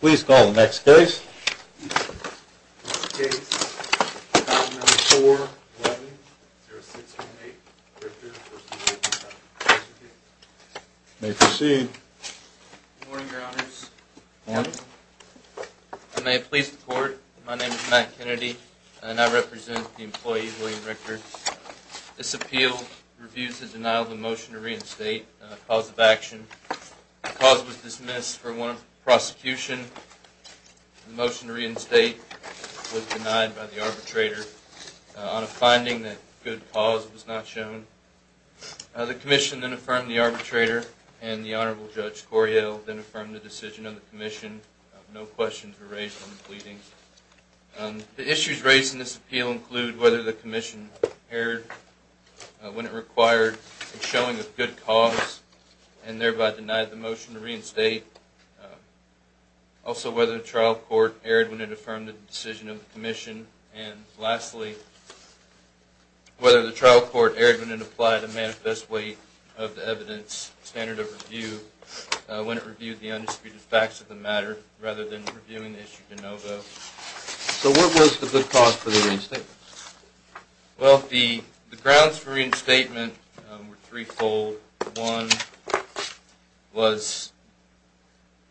Please call the next case. Next case, file number 411-0628, Richter v. William Richter. You may proceed. Good morning, your honors. Good morning. I may please the court. My name is Matt Kennedy, and I represent the employee, William Richter. This appeal reviews the denial of the motion to reinstate a cause of action. The cause was dismissed for one of prosecution. The motion to reinstate was denied by the arbitrator on a finding that good cause was not shown. The commission then affirmed the arbitrator, and the Honorable Judge Cory Hill then affirmed the decision of the commission. No questions were raised on the pleadings. The issues raised in this appeal include whether the commission erred when it required a showing of good cause and thereby denied the motion to reinstate, also whether the trial court erred when it affirmed the decision of the commission, and lastly, whether the trial court erred when it applied a manifest weight of the evidence standard of review when it reviewed the undisputed facts of the matter rather than reviewing the issue de novo. So what was the good cause for the reinstatement? Well, the grounds for reinstatement were threefold. One was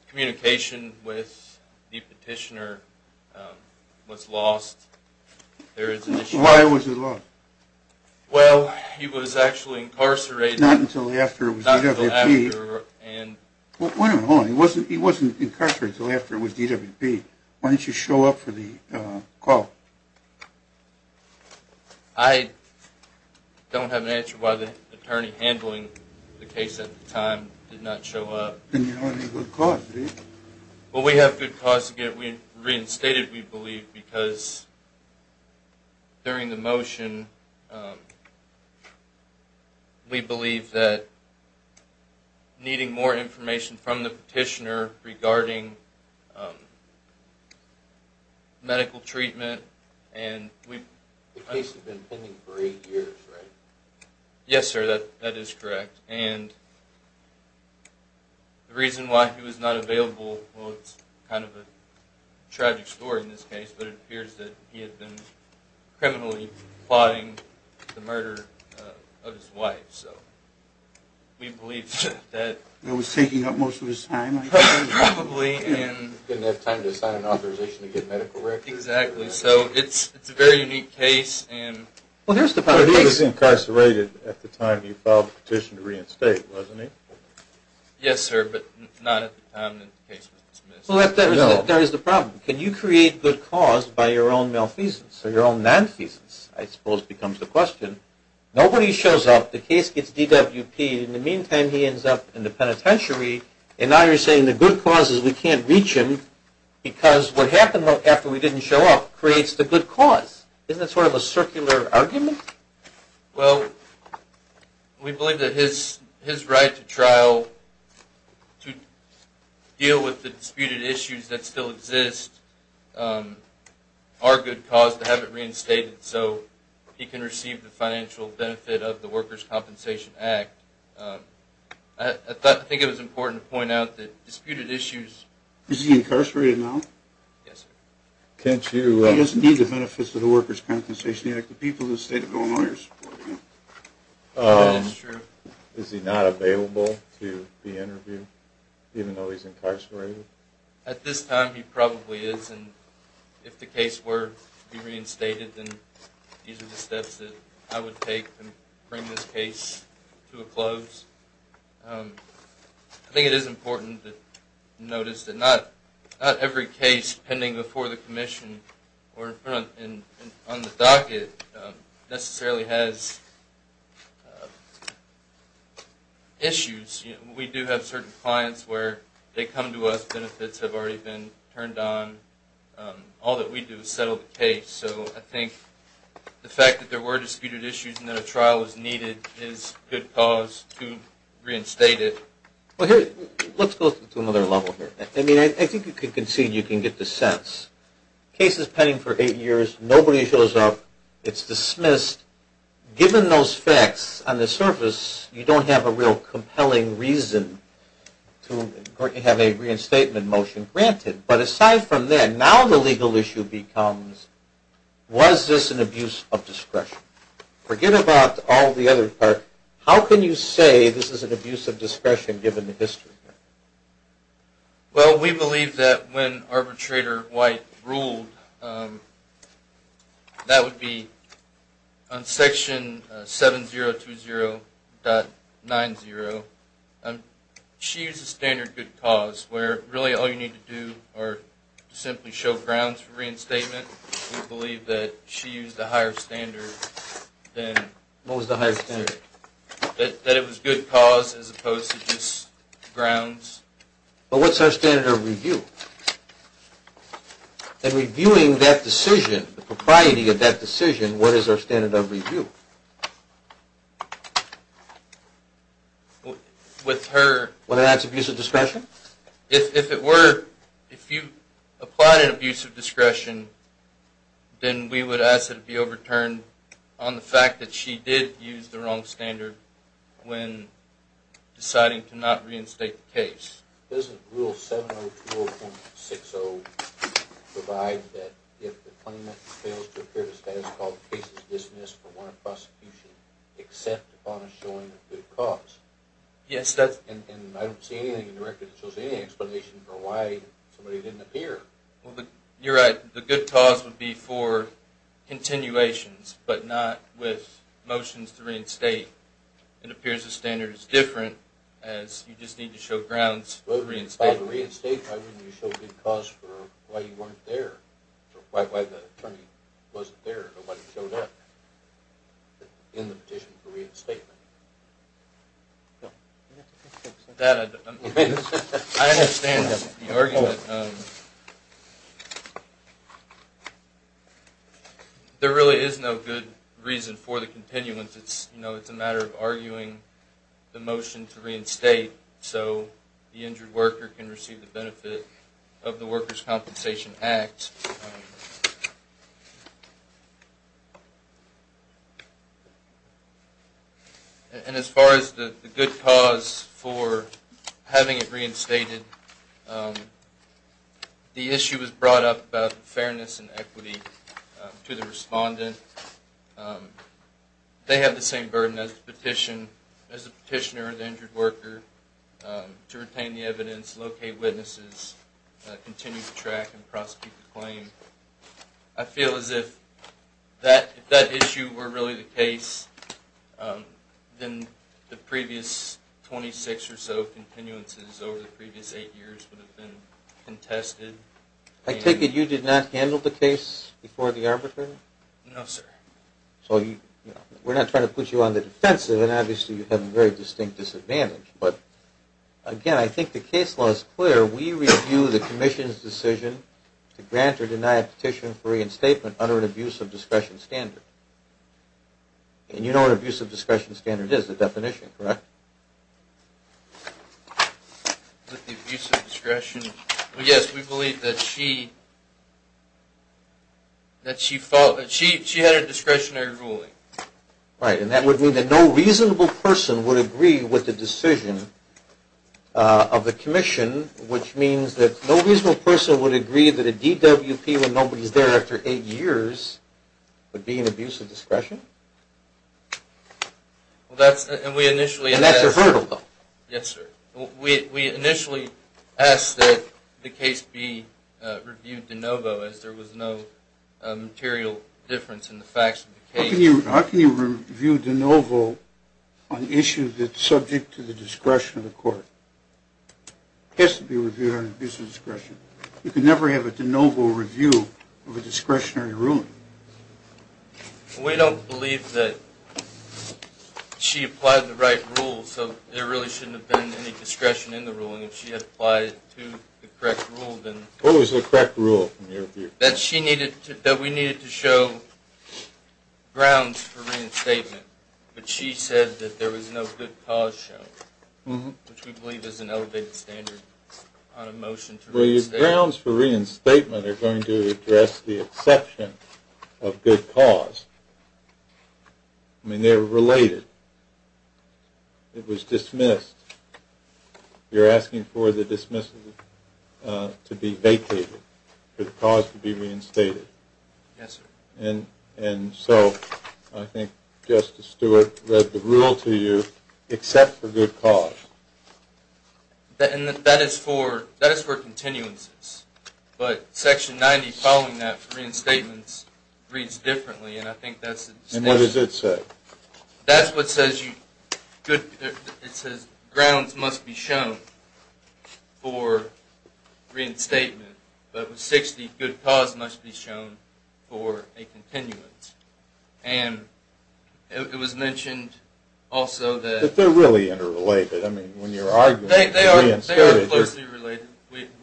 communication with the petitioner was lost. Why was it lost? Well, he was actually incarcerated. Not until after it was DWP. Wait a minute. He wasn't incarcerated until after it was DWP. Why didn't you show up for the call? I don't have an answer why the attorney handling the case at the time did not show up. Then you don't have any good cause, do you? Well, we have good cause to get reinstated, we believe, because during the motion, we believe that needing more information from the petitioner regarding medical treatment, and we... The case had been pending for eight years, right? Yes, sir, that is correct. And the reason why he was not available, well, it's kind of a tragic story in this case, but it appears that he had been criminally plotting the murder of his wife, so we believe that... It was taking up most of his time, I think. Probably, and... He didn't have time to sign an authorization to get medical records. Exactly, so it's a very unique case, and... Well, he was incarcerated at the time you filed the petition to reinstate, wasn't he? Yes, sir, but not at the time the case was dismissed. Well, that is the problem. Can you create good cause by your own malfeasance or your own nonfeasance, I suppose becomes the question. Nobody shows up, the case gets DWP'd, and in the meantime he ends up in the penitentiary, and now you're saying the good cause is we can't reach him, because what happened after we didn't show up creates the good cause. Isn't that sort of a circular argument? Well, we believe that his right to trial, to deal with the disputed issues that still exist, are good cause to have it reinstated so he can receive the financial benefit of the Workers' Compensation Act. I think it was important to point out that disputed issues... Is he incarcerated now? Yes, sir. Can't you... That is true. Is he not available to be interviewed, even though he's incarcerated? At this time, he probably is, and if the case were to be reinstated, then these are the steps that I would take to bring this case to a close. I think it is important to notice that not every case pending before the commission or on the docket necessarily has issues. We do have certain clients where they come to us, benefits have already been turned on. All that we do is settle the case, so I think the fact that there were disputed issues and that a trial was needed is good cause to reinstate it. Let's go to another level here. I think you can concede, you can get the sense. Case is pending for eight years, nobody shows up, it's dismissed. Given those facts, on the surface, you don't have a real compelling reason to have a reinstatement motion granted. But aside from that, now the legal issue becomes, was this an abuse of discretion? Forget about all the other parts. How can you say this is an abuse of discretion given the history? Well, we believe that when Arbitrator White ruled, that would be on Section 7020.90, she used a standard good cause where really all you need to do is simply show grounds for reinstatement. We believe that she used a higher standard than... What was the higher standard? That it was good cause as opposed to just grounds. But what's her standard of review? In reviewing that decision, the propriety of that decision, what is her standard of review? With her... Whether that's abuse of discretion? If it were, if you applied an abuse of discretion, then we would ask that it be overturned on the fact that she did use the wrong standard when deciding to not reinstate the case. Doesn't Rule 7020.60 provide that if the claimant fails to appear to status, the case is dismissed for warrant of prosecution, except upon a showing of good cause? Yes, that's... And I don't see anything in the record that shows any explanation for why somebody didn't appear. Well, you're right. The good cause would be for continuations, but not with motions to reinstate. It appears the standard is different, as you just need to show grounds for reinstatement. Well, if it was to reinstate, why wouldn't you show good cause for why you weren't there, or why the attorney wasn't there, or wasn't shown up in the petition for reinstatement? I understand the argument. There really is no good reason for the continuance. It's a matter of arguing the motion to reinstate so the injured worker can receive the benefit of the Workers' Compensation Act. And as far as the good cause for having it reinstated, the issue was brought up about fairness and equity to the respondent. They have the same burden as the petitioner or the injured worker to retain the evidence, locate witnesses, continue the track, and prosecute the claim. I feel as if if that issue were really the case, then the previous 26 or so continuances over the previous eight years would have been contested. I take it you did not handle the case before the arbitration? No, sir. We're not trying to put you on the defensive, and obviously you have a very distinct disadvantage. But again, I think the case law is clear. We review the Commission's decision to grant or deny a petition for reinstatement under an abuse of discretion standard. And you know what an abuse of discretion standard is, the definition, correct? An abuse of discretion. Yes, we believe that she had a discretionary ruling. Right, and that would mean that no reasonable person would agree with the decision of the Commission, which means that no reasonable person would agree that a DWP when nobody's there after eight years would be an abuse of discretion? And that's a hurdle. Yes, sir. We initially asked that the case be reviewed de novo as there was no material difference in the facts of the case. How can you review de novo on issues that are subject to the discretion of the court? It has to be reviewed on abuse of discretion. You can never have a de novo review of a discretionary ruling. We don't believe that she applied the right rules, so there really shouldn't have been any discretion in the ruling. If she had applied to the correct rule, then— What was the correct rule in your view? That she needed to—that we needed to show grounds for reinstatement. But she said that there was no good cause shown, which we believe is an elevated standard on a motion to reinstate. Well, your grounds for reinstatement are going to address the exception of good cause. I mean, they're related. It was dismissed. You're asking for the dismissal to be vacated, for the cause to be reinstated. Yes, sir. And so I think Justice Stewart read the rule to you, except for good cause. And that is for continuances. But Section 90, following that, for reinstatements, reads differently. And I think that's— And what does it say? That's what says you—it says grounds must be shown for reinstatement. But with 60, good cause must be shown for a continuance. And it was mentioned also that— But they're really interrelated. I mean, when you're arguing for reinstatement— They are closely related.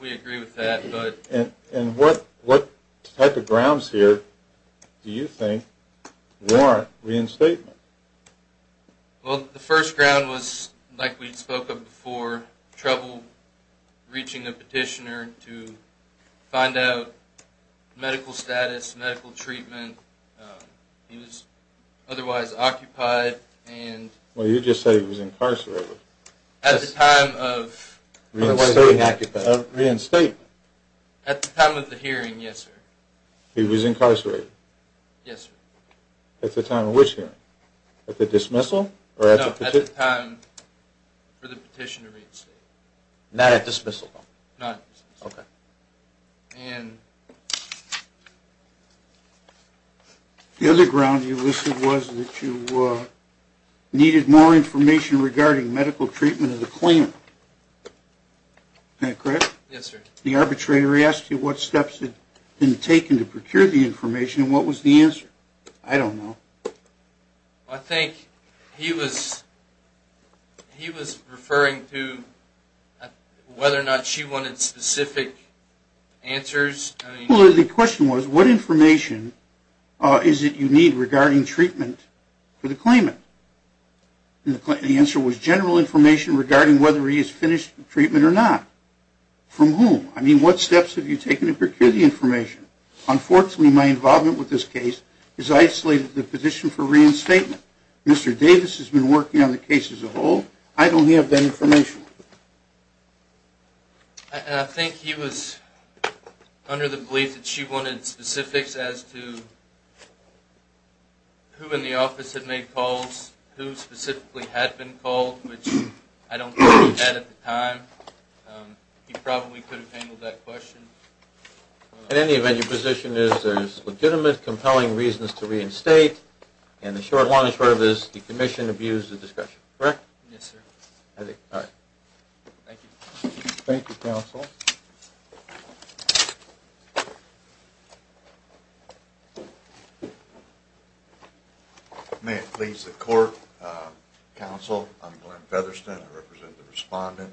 We agree with that. And what type of grounds here do you think warrant reinstatement? Well, the first ground was, like we spoke of before, trouble reaching a petitioner to find out medical status, medical treatment. He was otherwise occupied and— Well, you just said he was incarcerated. At the time of— Reinstatement. Reinstatement. At the time of the hearing, yes, sir. He was incarcerated? Yes, sir. At the time of which hearing? At the dismissal? No, at the time for the petition to reinstate. Not at dismissal? Not at dismissal. Okay. And— The other ground you listed was that you needed more information regarding medical treatment of the claimant. Is that correct? Yes, sir. The arbitrator asked you what steps had been taken to procure the information and what was the answer. I don't know. I think he was referring to whether or not she wanted specific answers. Well, the question was, what information is it you need regarding treatment for the claimant? And the answer was general information regarding whether he is finished with treatment or not. From whom? I mean, what steps have you taken to procure the information? Unfortunately, my involvement with this case has isolated the petition for reinstatement. Mr. Davis has been working on the case as a whole. I don't have that information. I think he was under the belief that she wanted specifics as to who in the office had made calls, who specifically had been called, which I don't think he had at the time. He probably could have handled that question. In any event, your position is there's legitimate compelling reasons to reinstate, and the short, long and short of this, the commission abused the discussion, correct? Yes, sir. All right. Thank you. Thank you, counsel. May it please the court, counsel, I'm Glenn Featherston. I represent the respondent.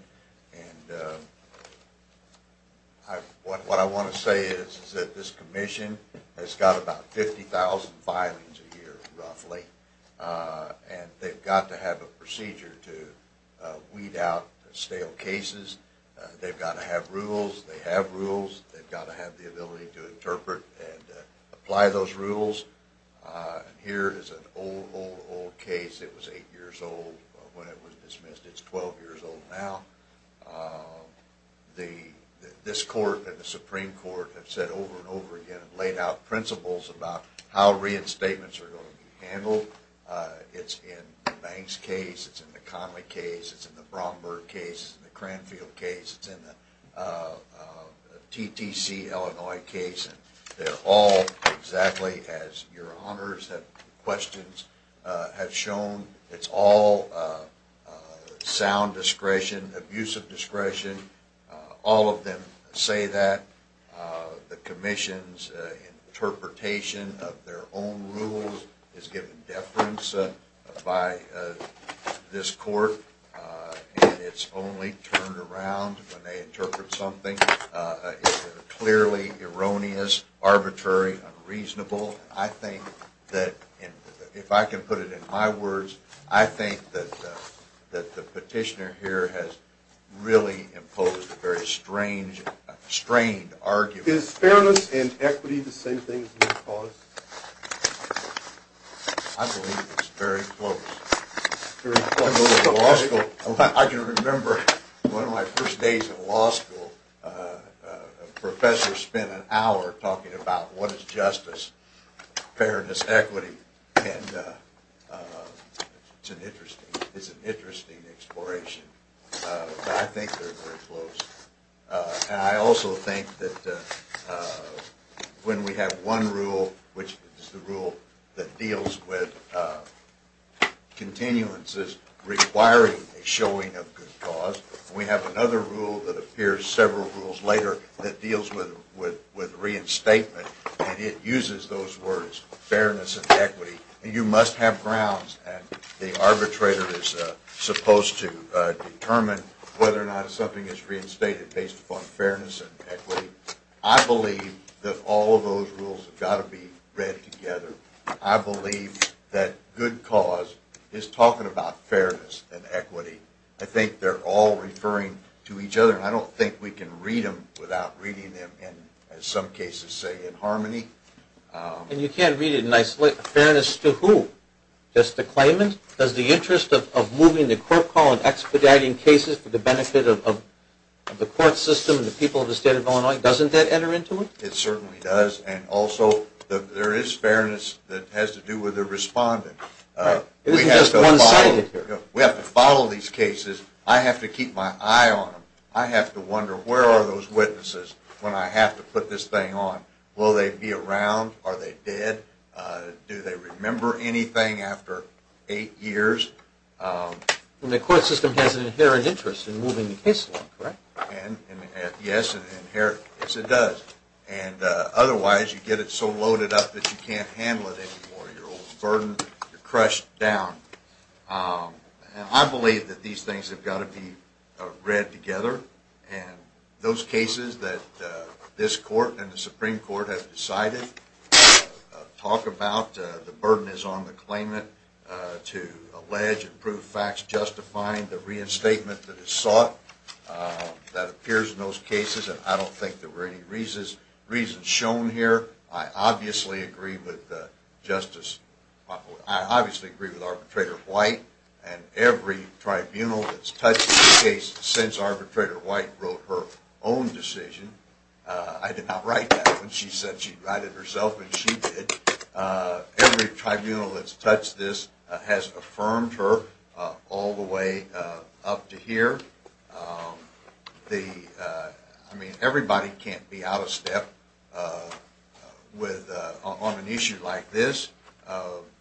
And what I want to say is that this commission has got about 50,000 filings a year, roughly. And they've got to have a procedure to weed out stale cases. They've got to have rules. They have rules. They've got to have the ability to interpret and apply those rules. Here is an old, old, old case. It was eight years old when it was dismissed. It's 12 years old now. This court and the Supreme Court have said over and over again and laid out principles about how reinstatements are going to be handled. It's in the Banks case. It's in the Conley case. It's in the Bromberg case. It's in the Cranfield case. It's in the TTC Illinois case. And they're all exactly as your honors and questions have shown. It's all sound discretion, abusive discretion. All of them say that. The commission's interpretation of their own rules is given deference by this court. And it's only turned around when they interpret something. It's clearly erroneous, arbitrary, unreasonable. I think that, if I can put it in my words, I think that the petitioner here has really imposed a very strained argument. Is fairness and equity the same thing? I believe it's very close. I can remember one of my first days in law school, a professor spent an hour talking about what is justice, fairness, equity. It's an interesting exploration. I think they're very close. I also think that when we have one rule, which is the rule that deals with continuances requiring a showing of good cause, we have another rule that appears several rules later that deals with reinstatement. And it uses those words, fairness and equity. And you must have grounds. And the arbitrator is supposed to determine whether or not something is reinstated based upon fairness and equity. I believe that all of those rules have got to be read together. I believe that good cause is talking about fairness and equity. I think they're all referring to each other. And I don't think we can read them without reading them, in some cases, say, in harmony. And you can't read it in isolation. Fairness to who? Just the claimant? Does the interest of moving the court call and expediting cases for the benefit of the court system and the people of the state of Illinois, doesn't that enter into it? It certainly does. And also there is fairness that has to do with the respondent. We have to follow these cases. I have to keep my eye on them. I have to wonder where are those witnesses when I have to put this thing on. Will they be around? Are they dead? Do they remember anything after eight years? The court system has an inherent interest in moving the case along, correct? Yes, it does. Otherwise, you get it so loaded up that you can't handle it anymore. You're overburdened. You're crushed down. I believe that these things have got to be read together. And those cases that this court and the Supreme Court have decided to talk about, the burden is on the claimant to allege and prove facts justifying the reinstatement that is sought that appears in those cases. And I don't think there were any reasons shown here. I obviously agree with Arbitrator White. And every tribunal that's touched this case since Arbitrator White wrote her own decision. I did not write that. She said she'd write it herself, and she did. Every tribunal that's touched this has affirmed her all the way up to here. I mean, everybody can't be out of step on an issue like this.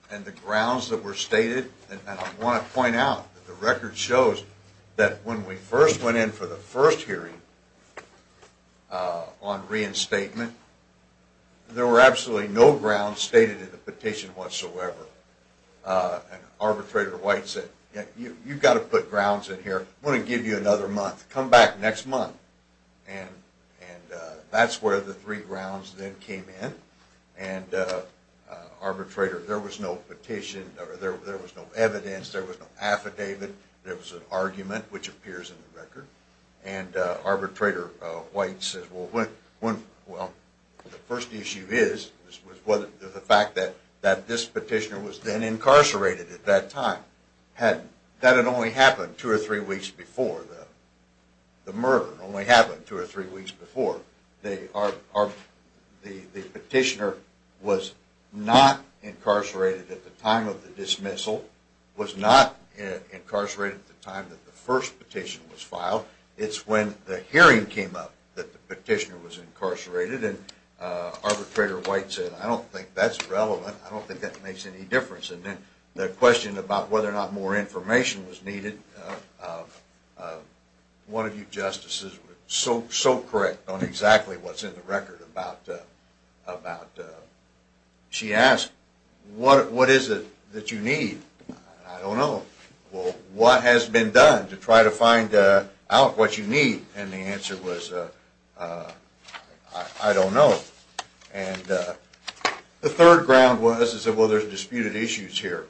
And the grounds that were stated, and I want to point out that the record shows that when we first went in for the first hearing on reinstatement, there were absolutely no grounds stated in the petition whatsoever. Arbitrator White said, you've got to put grounds in here. I'm going to give you another month. Come back next month. And that's where the three grounds then came in. And Arbitrator, there was no petition. There was no evidence. There was no affidavit. There was an argument, which appears in the record. And Arbitrator White says, well, the first issue is the fact that this petitioner was then incarcerated at that time. That had only happened two or three weeks before. The murder only happened two or three weeks before. The petitioner was not incarcerated at the time of the dismissal, was not incarcerated at the time that the first petition was filed. It's when the hearing came up that the petitioner was incarcerated. And Arbitrator White said, I don't think that's relevant. I don't think that makes any difference. And then the question about whether or not more information was needed, one of you justices was so correct on exactly what's in the record. She asked, what is it that you need? I don't know. Well, what has been done to try to find out what you need? And the answer was, I don't know. And the third ground was, well, there's disputed issues here.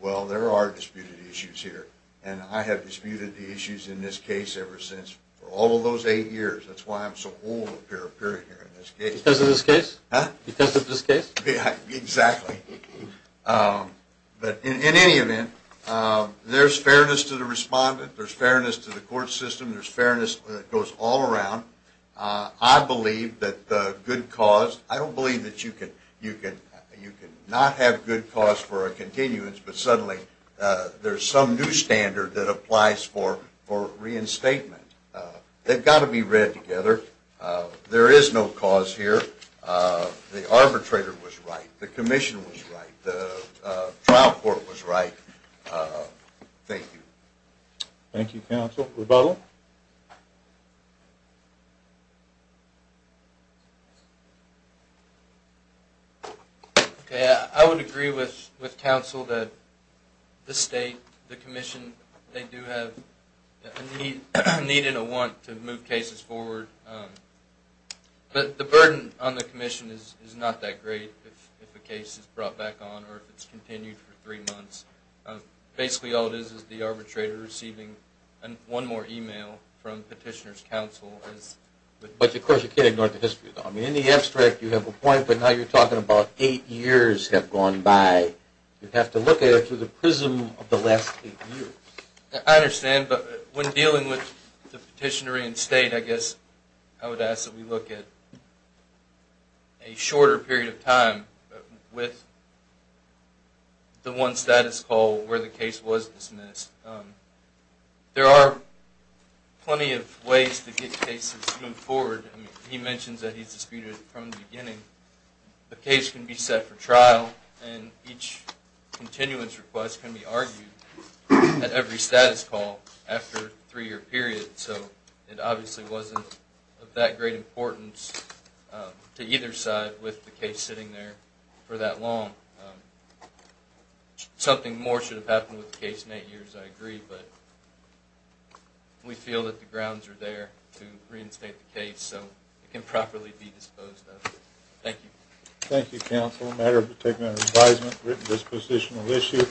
Well, there are disputed issues here, and I have disputed the issues in this case ever since, for all of those eight years. That's why I'm so old to appear here in this case. Because of this case? Huh? Because of this case? Exactly. But in any event, there's fairness to the respondent. There's fairness to the court system. There's fairness that goes all around. I believe that the good cause, I don't believe that you can not have good cause for a continuance, but suddenly there's some new standard that applies for reinstatement. They've got to be read together. There is no cause here. The arbitrator was right. The commission was right. The trial court was right. Thank you. Thank you, counsel. Rebuttal? Okay. I would agree with counsel that the state, the commission, they do have a need and a want to move cases forward. But the burden on the commission is not that great if a case is brought back on or if it's continued for three months. Basically all it is is the arbitrator receiving one more e-mail from petitioner's counsel. But, of course, you can't ignore the history. I mean, in the abstract you have a point, but now you're talking about eight years have gone by. You have to look at it through the prism of the last eight years. I understand. But when dealing with the petitioner in state, I guess I would ask that we look at a shorter period of time with the one status call where the case was dismissed. There are plenty of ways to get cases moving forward. I mean, he mentions that he's disputed it from the beginning. The case can be set for trial, and each continuance request can be argued at every status call after a three-year period. So it obviously wasn't of that great importance to either side with the case sitting there for that long. Something more should have happened with the case in eight years, I agree, but we feel that the grounds are there to reinstate the case so it can properly be disposed of. Thank you. Thank you, counsel. A matter of particular advisement, written disposition of issue.